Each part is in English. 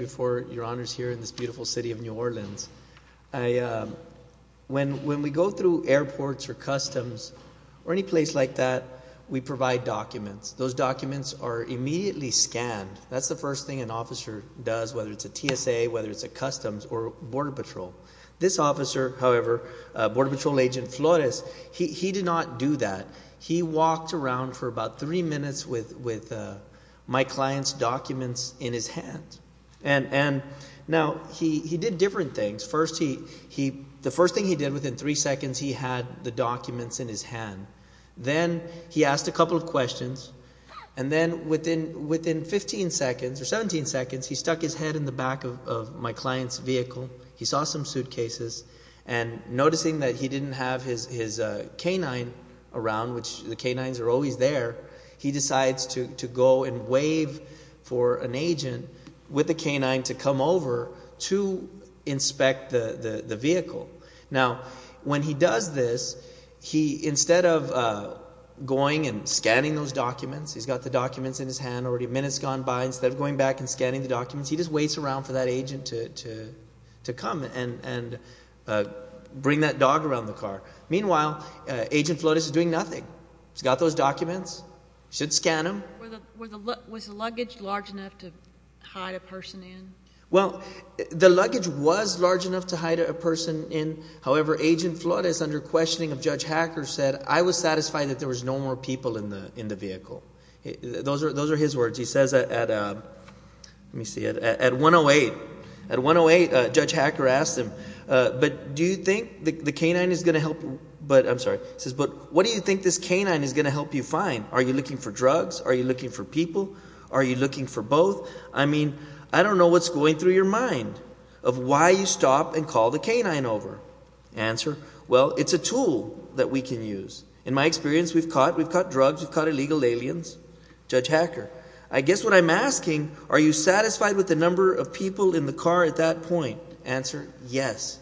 in this beautiful city of New Orleans. When we go through airports or customs or any place like that, we provide documents. Those documents are immediately scanned. That's the first thing an officer does, whether it's a TSA, whether it's a customs or border patrol. This officer, however, Border Patrol Agent Flores, he did not do that. He walked around for about three minutes with my client's documents in his hand. Now, he did different things. The first thing he did, within three seconds, he had the documents in his hand. Then he asked a couple of questions. And then within fifteen seconds or seventeen seconds, he stuck his head in the back of my client's vehicle. He saw some suitcases. And noticing that he didn't have his K-9 around, which the K-9s are always there, he decides to go and wave for an agent with the K-9 to come over to inspect the vehicle. Now, when he does this, instead of going and scanning those documents, he's got the documents in his hand already minutes gone by. Instead of going back and scanning the documents, he just waits around for that agent to come and bring that dog around the car. Meanwhile, Agent Flores is doing nothing. He's got those documents. He should scan them. Was the luggage large enough to hide a person in? Well, the luggage was large enough to hide a person in. However, Agent Flores, under questioning of Judge Hacker, said, I was satisfied that there was no more people in the vehicle. Those are his words. He says at 108, Judge Hacker asked him, but do you think the K-9 is going to help – I'm sorry. He says, but what do you think this K-9 is going to help you find? Are you looking for drugs? Are you looking for people? Are you looking for both? I mean, I don't know what's going through your mind of why you stop and call the K-9 over. Answer, well, it's a tool that we can use. In my experience, we've caught drugs. We've caught illegal aliens. Judge Hacker, I guess what I'm asking, are you satisfied with the number of people in the car at that point? Answer, yes.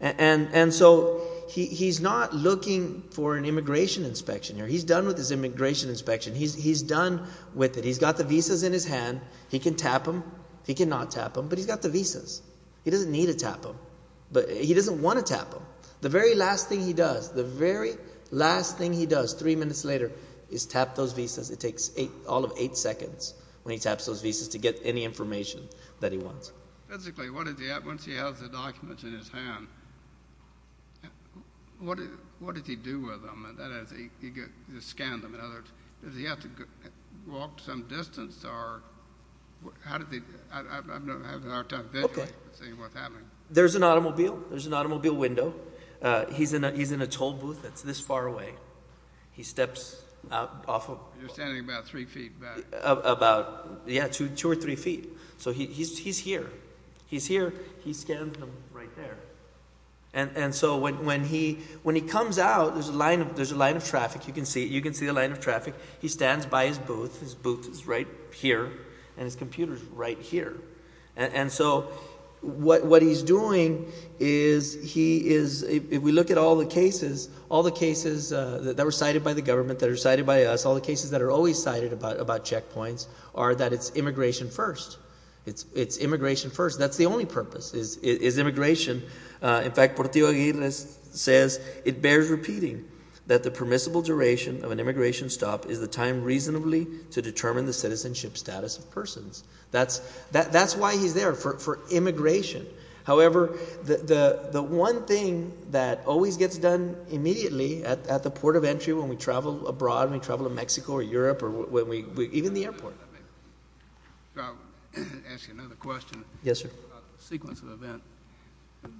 And so he's not looking for an immigration inspection. He's done with his immigration inspection. He's done with it. He's got the visas in his hand. He can tap them. He cannot tap them, but he's got the visas. He doesn't need to tap them, but he doesn't want to tap them. The very last thing he does, the very last thing he does three minutes later is tap those visas. It takes all of eight seconds when he taps those visas to get any information that he wants. Physically, what does he – once he has the documents in his hand, what does he do with them? That is, he scans them. In other words, does he have to walk some distance or – how does he – I'm having a hard time visually seeing what's happening. There's an automobile. There's an automobile window. He's in a toll booth that's this far away. He steps off of – You're standing about three feet back. Yeah, two or three feet. So he's here. He's here. He scans them right there. And so when he comes out, there's a line of traffic. You can see the line of traffic. He stands by his booth. His booth is right here and his computer is right here. And so what he's doing is he is – if we look at all the cases, all the cases that were cited by the government, that are cited by us, all the cases that are always cited about checkpoints are that it's immigration first. It's immigration first. That's the only purpose is immigration. In fact, Portillo Aguirre says it bears repeating that the permissible duration of an immigration stop is the time reasonably to determine the citizenship status of persons. That's why he's there for immigration. However, the one thing that always gets done immediately at the port of entry when we travel abroad, when we travel to Mexico or Europe or when we – even the airport. I'll ask you another question. Yes, sir. About the sequence of events.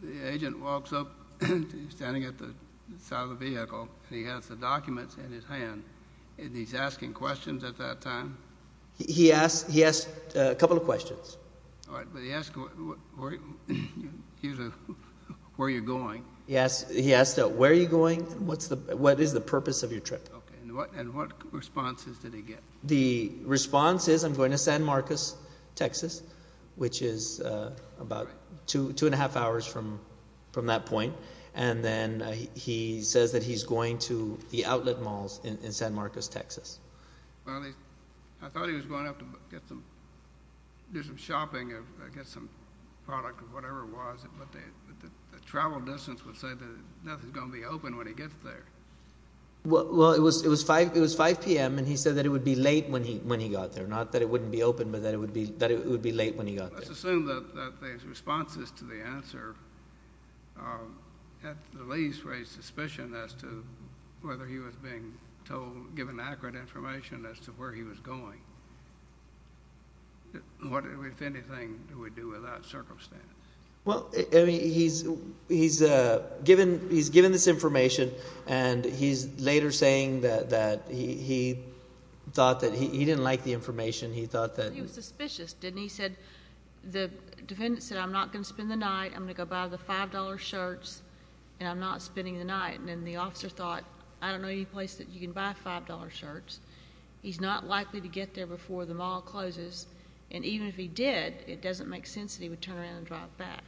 The agent walks up. He's standing at the side of the vehicle. He has the documents in his hand, and he's asking questions at that time? He asked a couple of questions. All right, but he asked where you're going. He asked where you're going and what is the purpose of your trip. Okay, and what responses did he get? The response is I'm going to San Marcos, Texas, which is about two and a half hours from that point. And then he says that he's going to the outlet malls in San Marcos, Texas. Well, I thought he was going out to do some shopping or get some product or whatever it was, but the travel distance would say that nothing's going to be open when he gets there. Well, it was 5 p.m., and he said that it would be late when he got there, not that it wouldn't be open, but that it would be late when he got there. Let's assume that his responses to the answer at the least raised suspicion as to whether he was being told – given accurate information as to where he was going. What, if anything, do we do with that circumstance? Well, I mean he's given this information, and he's later saying that he thought that – he didn't like the information. He thought that – I thought he was suspicious, didn't he? He said the defendant said I'm not going to spend the night, I'm going to go buy the $5 shirts, and I'm not spending the night. And then the officer thought I don't know any place that you can buy $5 shirts. He's not likely to get there before the mall closes, and even if he did, it doesn't make sense that he would turn around and drive back.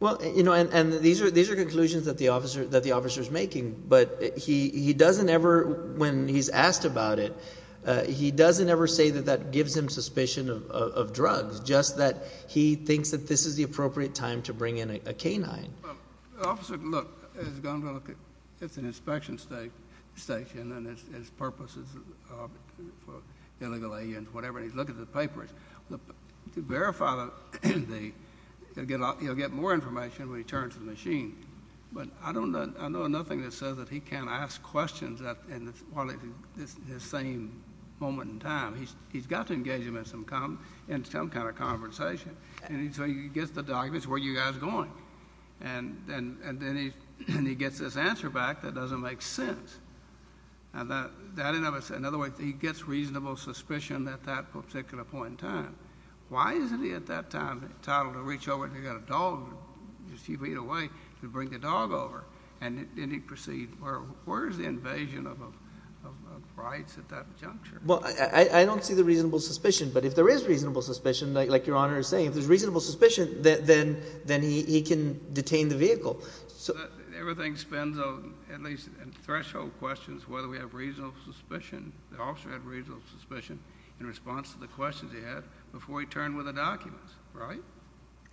Well, and these are conclusions that the officer is making, but he doesn't ever – when he's asked about it, he doesn't ever say that that gives him suspicion of drugs, just that he thinks that this is the appropriate time to bring in a canine. Officer, look, it's an inspection station, and its purpose is for illegal aliens, whatever, and he's looking at the papers. To verify the – he'll get more information when he turns the machine. But I don't know – I know nothing that says that he can't ask questions while it's the same moment in time. He's got to engage him in some kind of conversation. And so he gets the documents, where are you guys going? And then he gets this answer back that doesn't make sense. In other words, he gets reasonable suspicion at that particular point in time. Why isn't he at that time entitled to reach over and get a dog just a few feet away to bring the dog over? And then he proceeds – where is the invasion of rights at that juncture? Well, I don't see the reasonable suspicion. But if there is reasonable suspicion, like Your Honor is saying, if there's reasonable suspicion, then he can detain the vehicle. So – Everything spends on – at least in threshold questions whether we have reasonable suspicion. The officer had reasonable suspicion in response to the questions he had before he turned with the documents, right?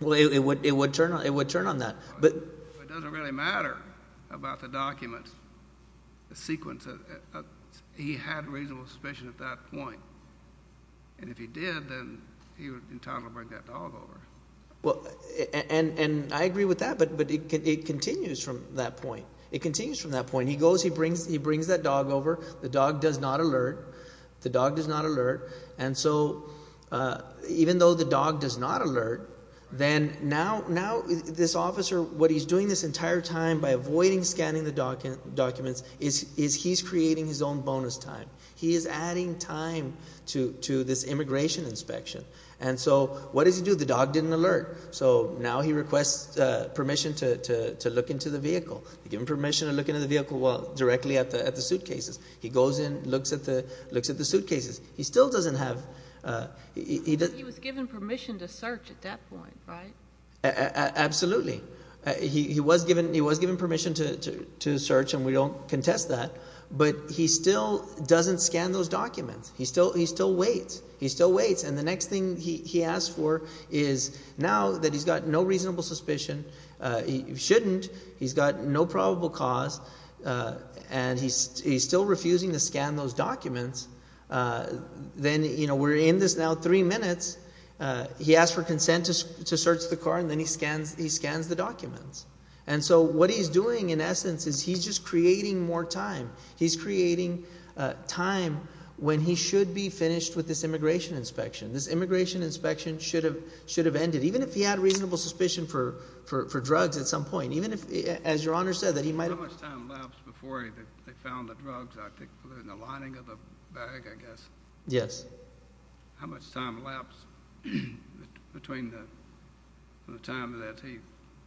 Well, it would turn on that. But it doesn't really matter about the documents, the sequence. He had reasonable suspicion at that point. And if he did, then he was entitled to bring that dog over. Well, and I agree with that. But it continues from that point. It continues from that point. He goes. He brings that dog over. The dog does not alert. The dog does not alert. And so even though the dog does not alert, then now this officer, what he's doing this entire time by avoiding scanning the documents is he's creating his own bonus time. He is adding time to this immigration inspection. And so what does he do? The dog didn't alert. So now he requests permission to look into the vehicle. He gives him permission to look into the vehicle, well, directly at the suitcases. He goes in, looks at the suitcases. He still doesn't have – He was given permission to search at that point, right? Absolutely. He was given permission to search, and we don't contest that. But he still doesn't scan those documents. He still waits. He still waits. And the next thing he asks for is now that he's got no reasonable suspicion, he shouldn't, he's got no probable cause, and he's still refusing to scan those documents. Then we're in this now three minutes. He asks for consent to search the car, and then he scans the documents. And so what he's doing in essence is he's just creating more time. He's creating time when he should be finished with this immigration inspection. This immigration inspection should have ended, even if he had reasonable suspicion for drugs at some point, even if, as Your Honor said, that he might have – In the lining of the bag, I guess. Yes. How much time lapsed between the time that he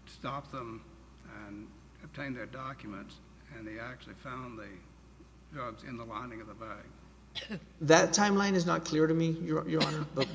stopped them and obtained their documents and he actually found the drugs in the lining of the bag? That timeline is not clear to me, Your Honor. But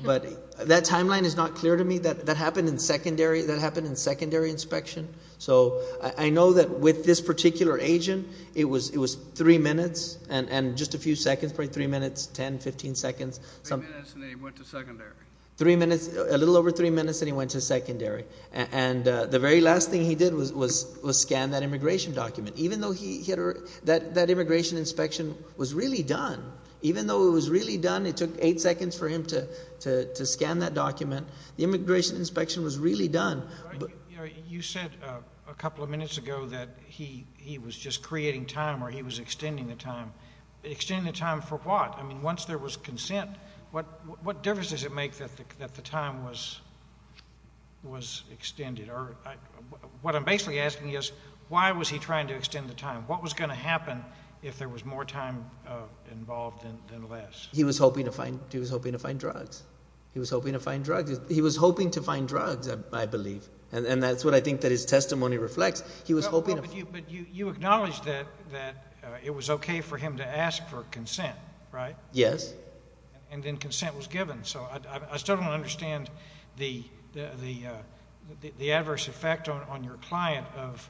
that timeline is not clear to me. That happened in secondary – that happened in secondary inspection. So I know that with this particular agent, it was three minutes and just a few seconds, probably three minutes, 10, 15 seconds. Three minutes and then he went to secondary. Three minutes – a little over three minutes and he went to secondary. And the very last thing he did was scan that immigration document. Even though he – that immigration inspection was really done. Even though it was really done, it took eight seconds for him to scan that document. The immigration inspection was really done. You said a couple of minutes ago that he was just creating time or he was extending the time. Extending the time for what? I mean once there was consent, what difference does it make that the time was extended? What I'm basically asking is why was he trying to extend the time? What was going to happen if there was more time involved than less? He was hoping to find – he was hoping to find drugs. He was hoping to find drugs, I believe, and that's what I think that his testimony reflects. He was hoping – But you acknowledged that it was okay for him to ask for consent, right? Yes. And then consent was given. So I still don't understand the adverse effect on your client of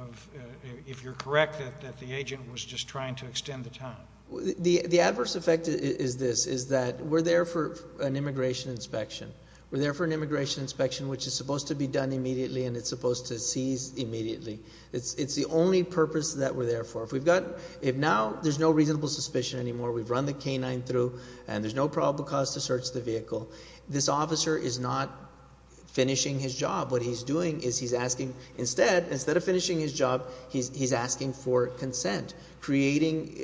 – if you're correct that the agent was just trying to extend the time. The adverse effect is this, is that we're there for an immigration inspection. We're there for an immigration inspection, which is supposed to be done immediately and it's supposed to cease immediately. It's the only purpose that we're there for. If we've got – if now there's no reasonable suspicion anymore, we've run the canine through, and there's no probable cause to search the vehicle, this officer is not finishing his job. What he's doing is he's asking – instead, instead of finishing his job, he's asking for consent, creating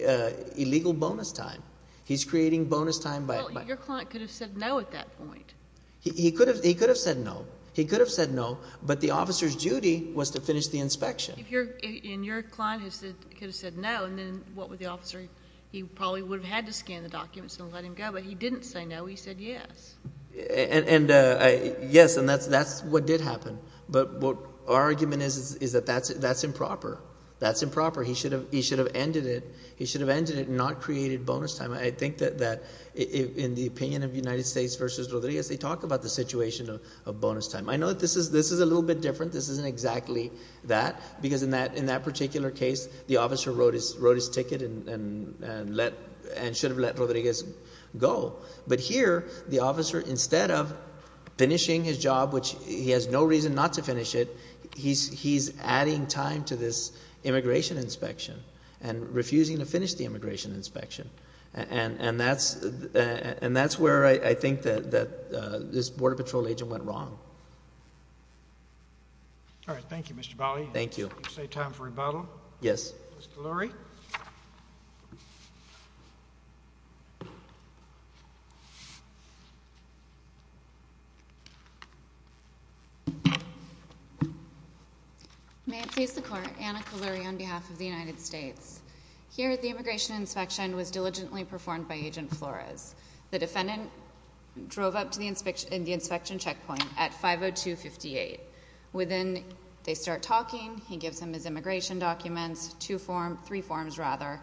illegal bonus time. He's creating bonus time by – Well, your client could have said no at that point. He could have said no. He could have said no, but the officer's duty was to finish the inspection. If you're – and your client could have said no, and then what would the officer – he probably would have had to scan the documents and let him go. But he didn't say no. He said yes. And yes, and that's what did happen. But what our argument is is that that's improper. That's improper. He should have ended it. He should have ended it and not created bonus time. I think that in the opinion of United States v. Rodriguez, they talk about the situation of bonus time. I know that this is a little bit different. This isn't exactly that because in that particular case, the officer wrote his ticket and let – and should have let Rodriguez go. But here the officer, instead of finishing his job, which he has no reason not to finish it, he's adding time to this immigration inspection and refusing to finish the immigration inspection. And that's where I think that this Border Patrol agent went wrong. All right. Thank you, Mr. Bali. Thank you. You say time for rebuttal? Yes. Mr. Lurie. Thank you. May it please the Court. Anna Kuluri on behalf of the United States. Here the immigration inspection was diligently performed by Agent Flores. The defendant drove up to the inspection checkpoint at 502-58. Within – they start talking. He gives them his immigration documents, two forms – three forms, rather.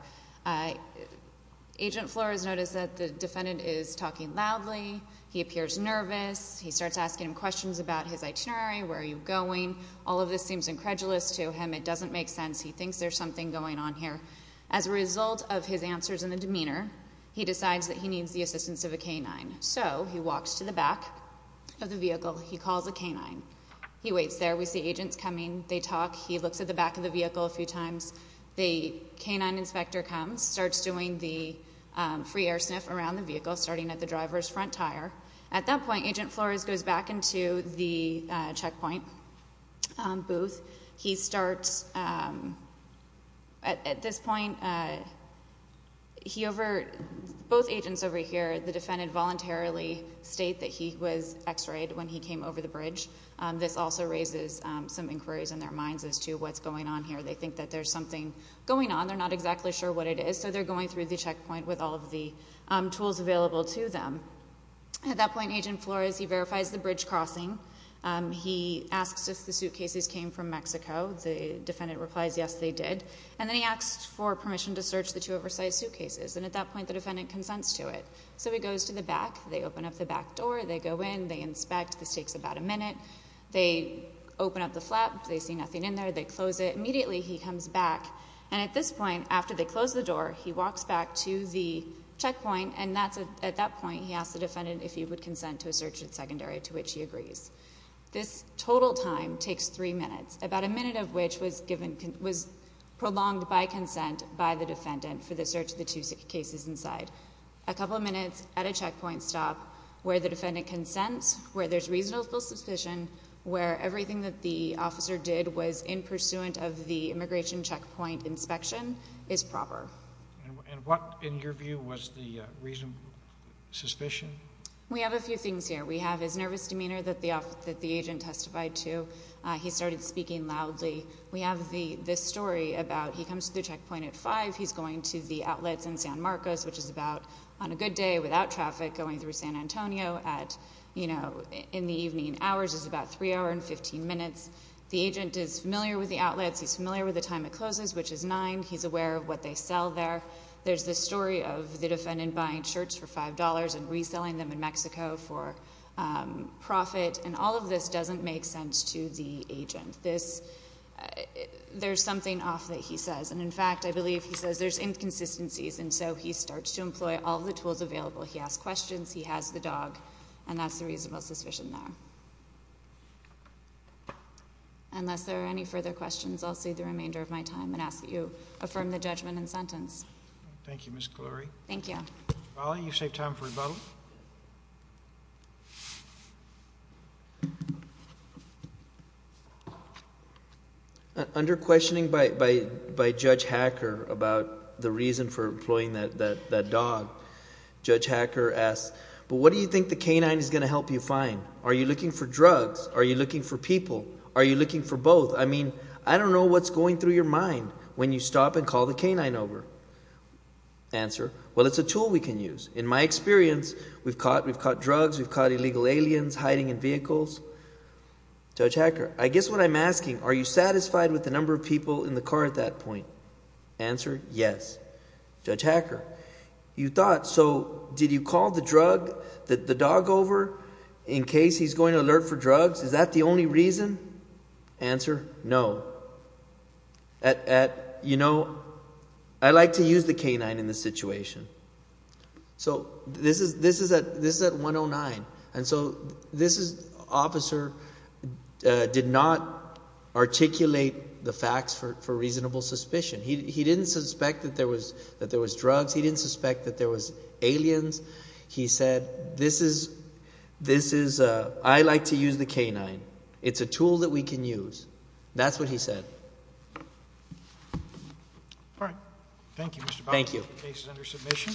Agent Flores noticed that the defendant is talking loudly. He appears nervous. He starts asking him questions about his itinerary, where are you going. All of this seems incredulous to him. It doesn't make sense. He thinks there's something going on here. As a result of his answers and the demeanor, he decides that he needs the assistance of a canine. So he walks to the back of the vehicle. He calls a canine. He waits there. We see agents coming. They talk. He looks at the back of the vehicle a few times. The canine inspector comes, starts doing the free air sniff around the vehicle, starting at the driver's front tire. At that point, Agent Flores goes back into the checkpoint booth. He starts – at this point, he over – both agents over here, the defendant voluntarily state that he was x-rayed when he came over the bridge. This also raises some inquiries in their minds as to what's going on here. They think that there's something going on. They're not exactly sure what it is, so they're going through the checkpoint with all of the tools available to them. At that point, Agent Flores, he verifies the bridge crossing. He asks if the suitcases came from Mexico. The defendant replies, yes, they did. And then he asks for permission to search the two oversized suitcases. And at that point, the defendant consents to it. So he goes to the back. They open up the back door. They go in. They inspect. This takes about a minute. They open up the flap. They see nothing in there. They close it. Immediately, he comes back. And at this point, after they close the door, he walks back to the checkpoint, and at that point, he asks the defendant if he would consent to a search of the secondary, to which he agrees. This total time takes three minutes, about a minute of which was prolonged by consent by the defendant for the search of the two suitcases inside. A couple of minutes at a checkpoint stop where the defendant consents, where there's reasonable suspicion, where everything that the officer did was in pursuant of the immigration checkpoint inspection is proper. And what, in your view, was the reasonable suspicion? We have a few things here. We have his nervous demeanor that the agent testified to. He started speaking loudly. We have this story about he comes to the checkpoint at 5. He's going to the outlets in San Marcos, which is about on a good day without traffic going through San Antonio at, you know, in the evening hours. It's about 3 hours and 15 minutes. The agent is familiar with the outlets. He's familiar with the time it closes, which is 9. He's aware of what they sell there. There's this story of the defendant buying shirts for $5 and reselling them in Mexico for profit. And all of this doesn't make sense to the agent. There's something off that he says. And, in fact, I believe he says there's inconsistencies. And so he starts to employ all the tools available. He asks questions. He has the dog. And that's the reasonable suspicion there. Unless there are any further questions, I'll save the remainder of my time and ask that you affirm the judgment and sentence. Thank you, Ms. Glory. Thank you. You saved time for rebuttal. Under questioning by Judge Hacker about the reason for employing that dog, Judge Hacker asks, but what do you think the canine is going to help you find? Are you looking for drugs? Are you looking for people? Are you looking for both? I mean, I don't know what's going through your mind when you stop and call the canine over. Answer, well, it's a tool we can use. In my experience, we've caught drugs. We've caught illegal aliens hiding in vehicles. Judge Hacker, I guess what I'm asking, are you satisfied with the number of people in the car at that point? Answer, yes. Judge Hacker, you thought, so did you call the drug, the dog over, in case he's going to alert for drugs? Is that the only reason? Answer, no. At, you know, I like to use the canine in this situation. So this is at 109, and so this officer did not articulate the facts for reasonable suspicion. He didn't suspect that there was drugs. He didn't suspect that there was aliens. He said, this is, I like to use the canine. It's a tool that we can use. That's what he said. All right. Thank you, Mr. Powers. Thank you. The case is under submission.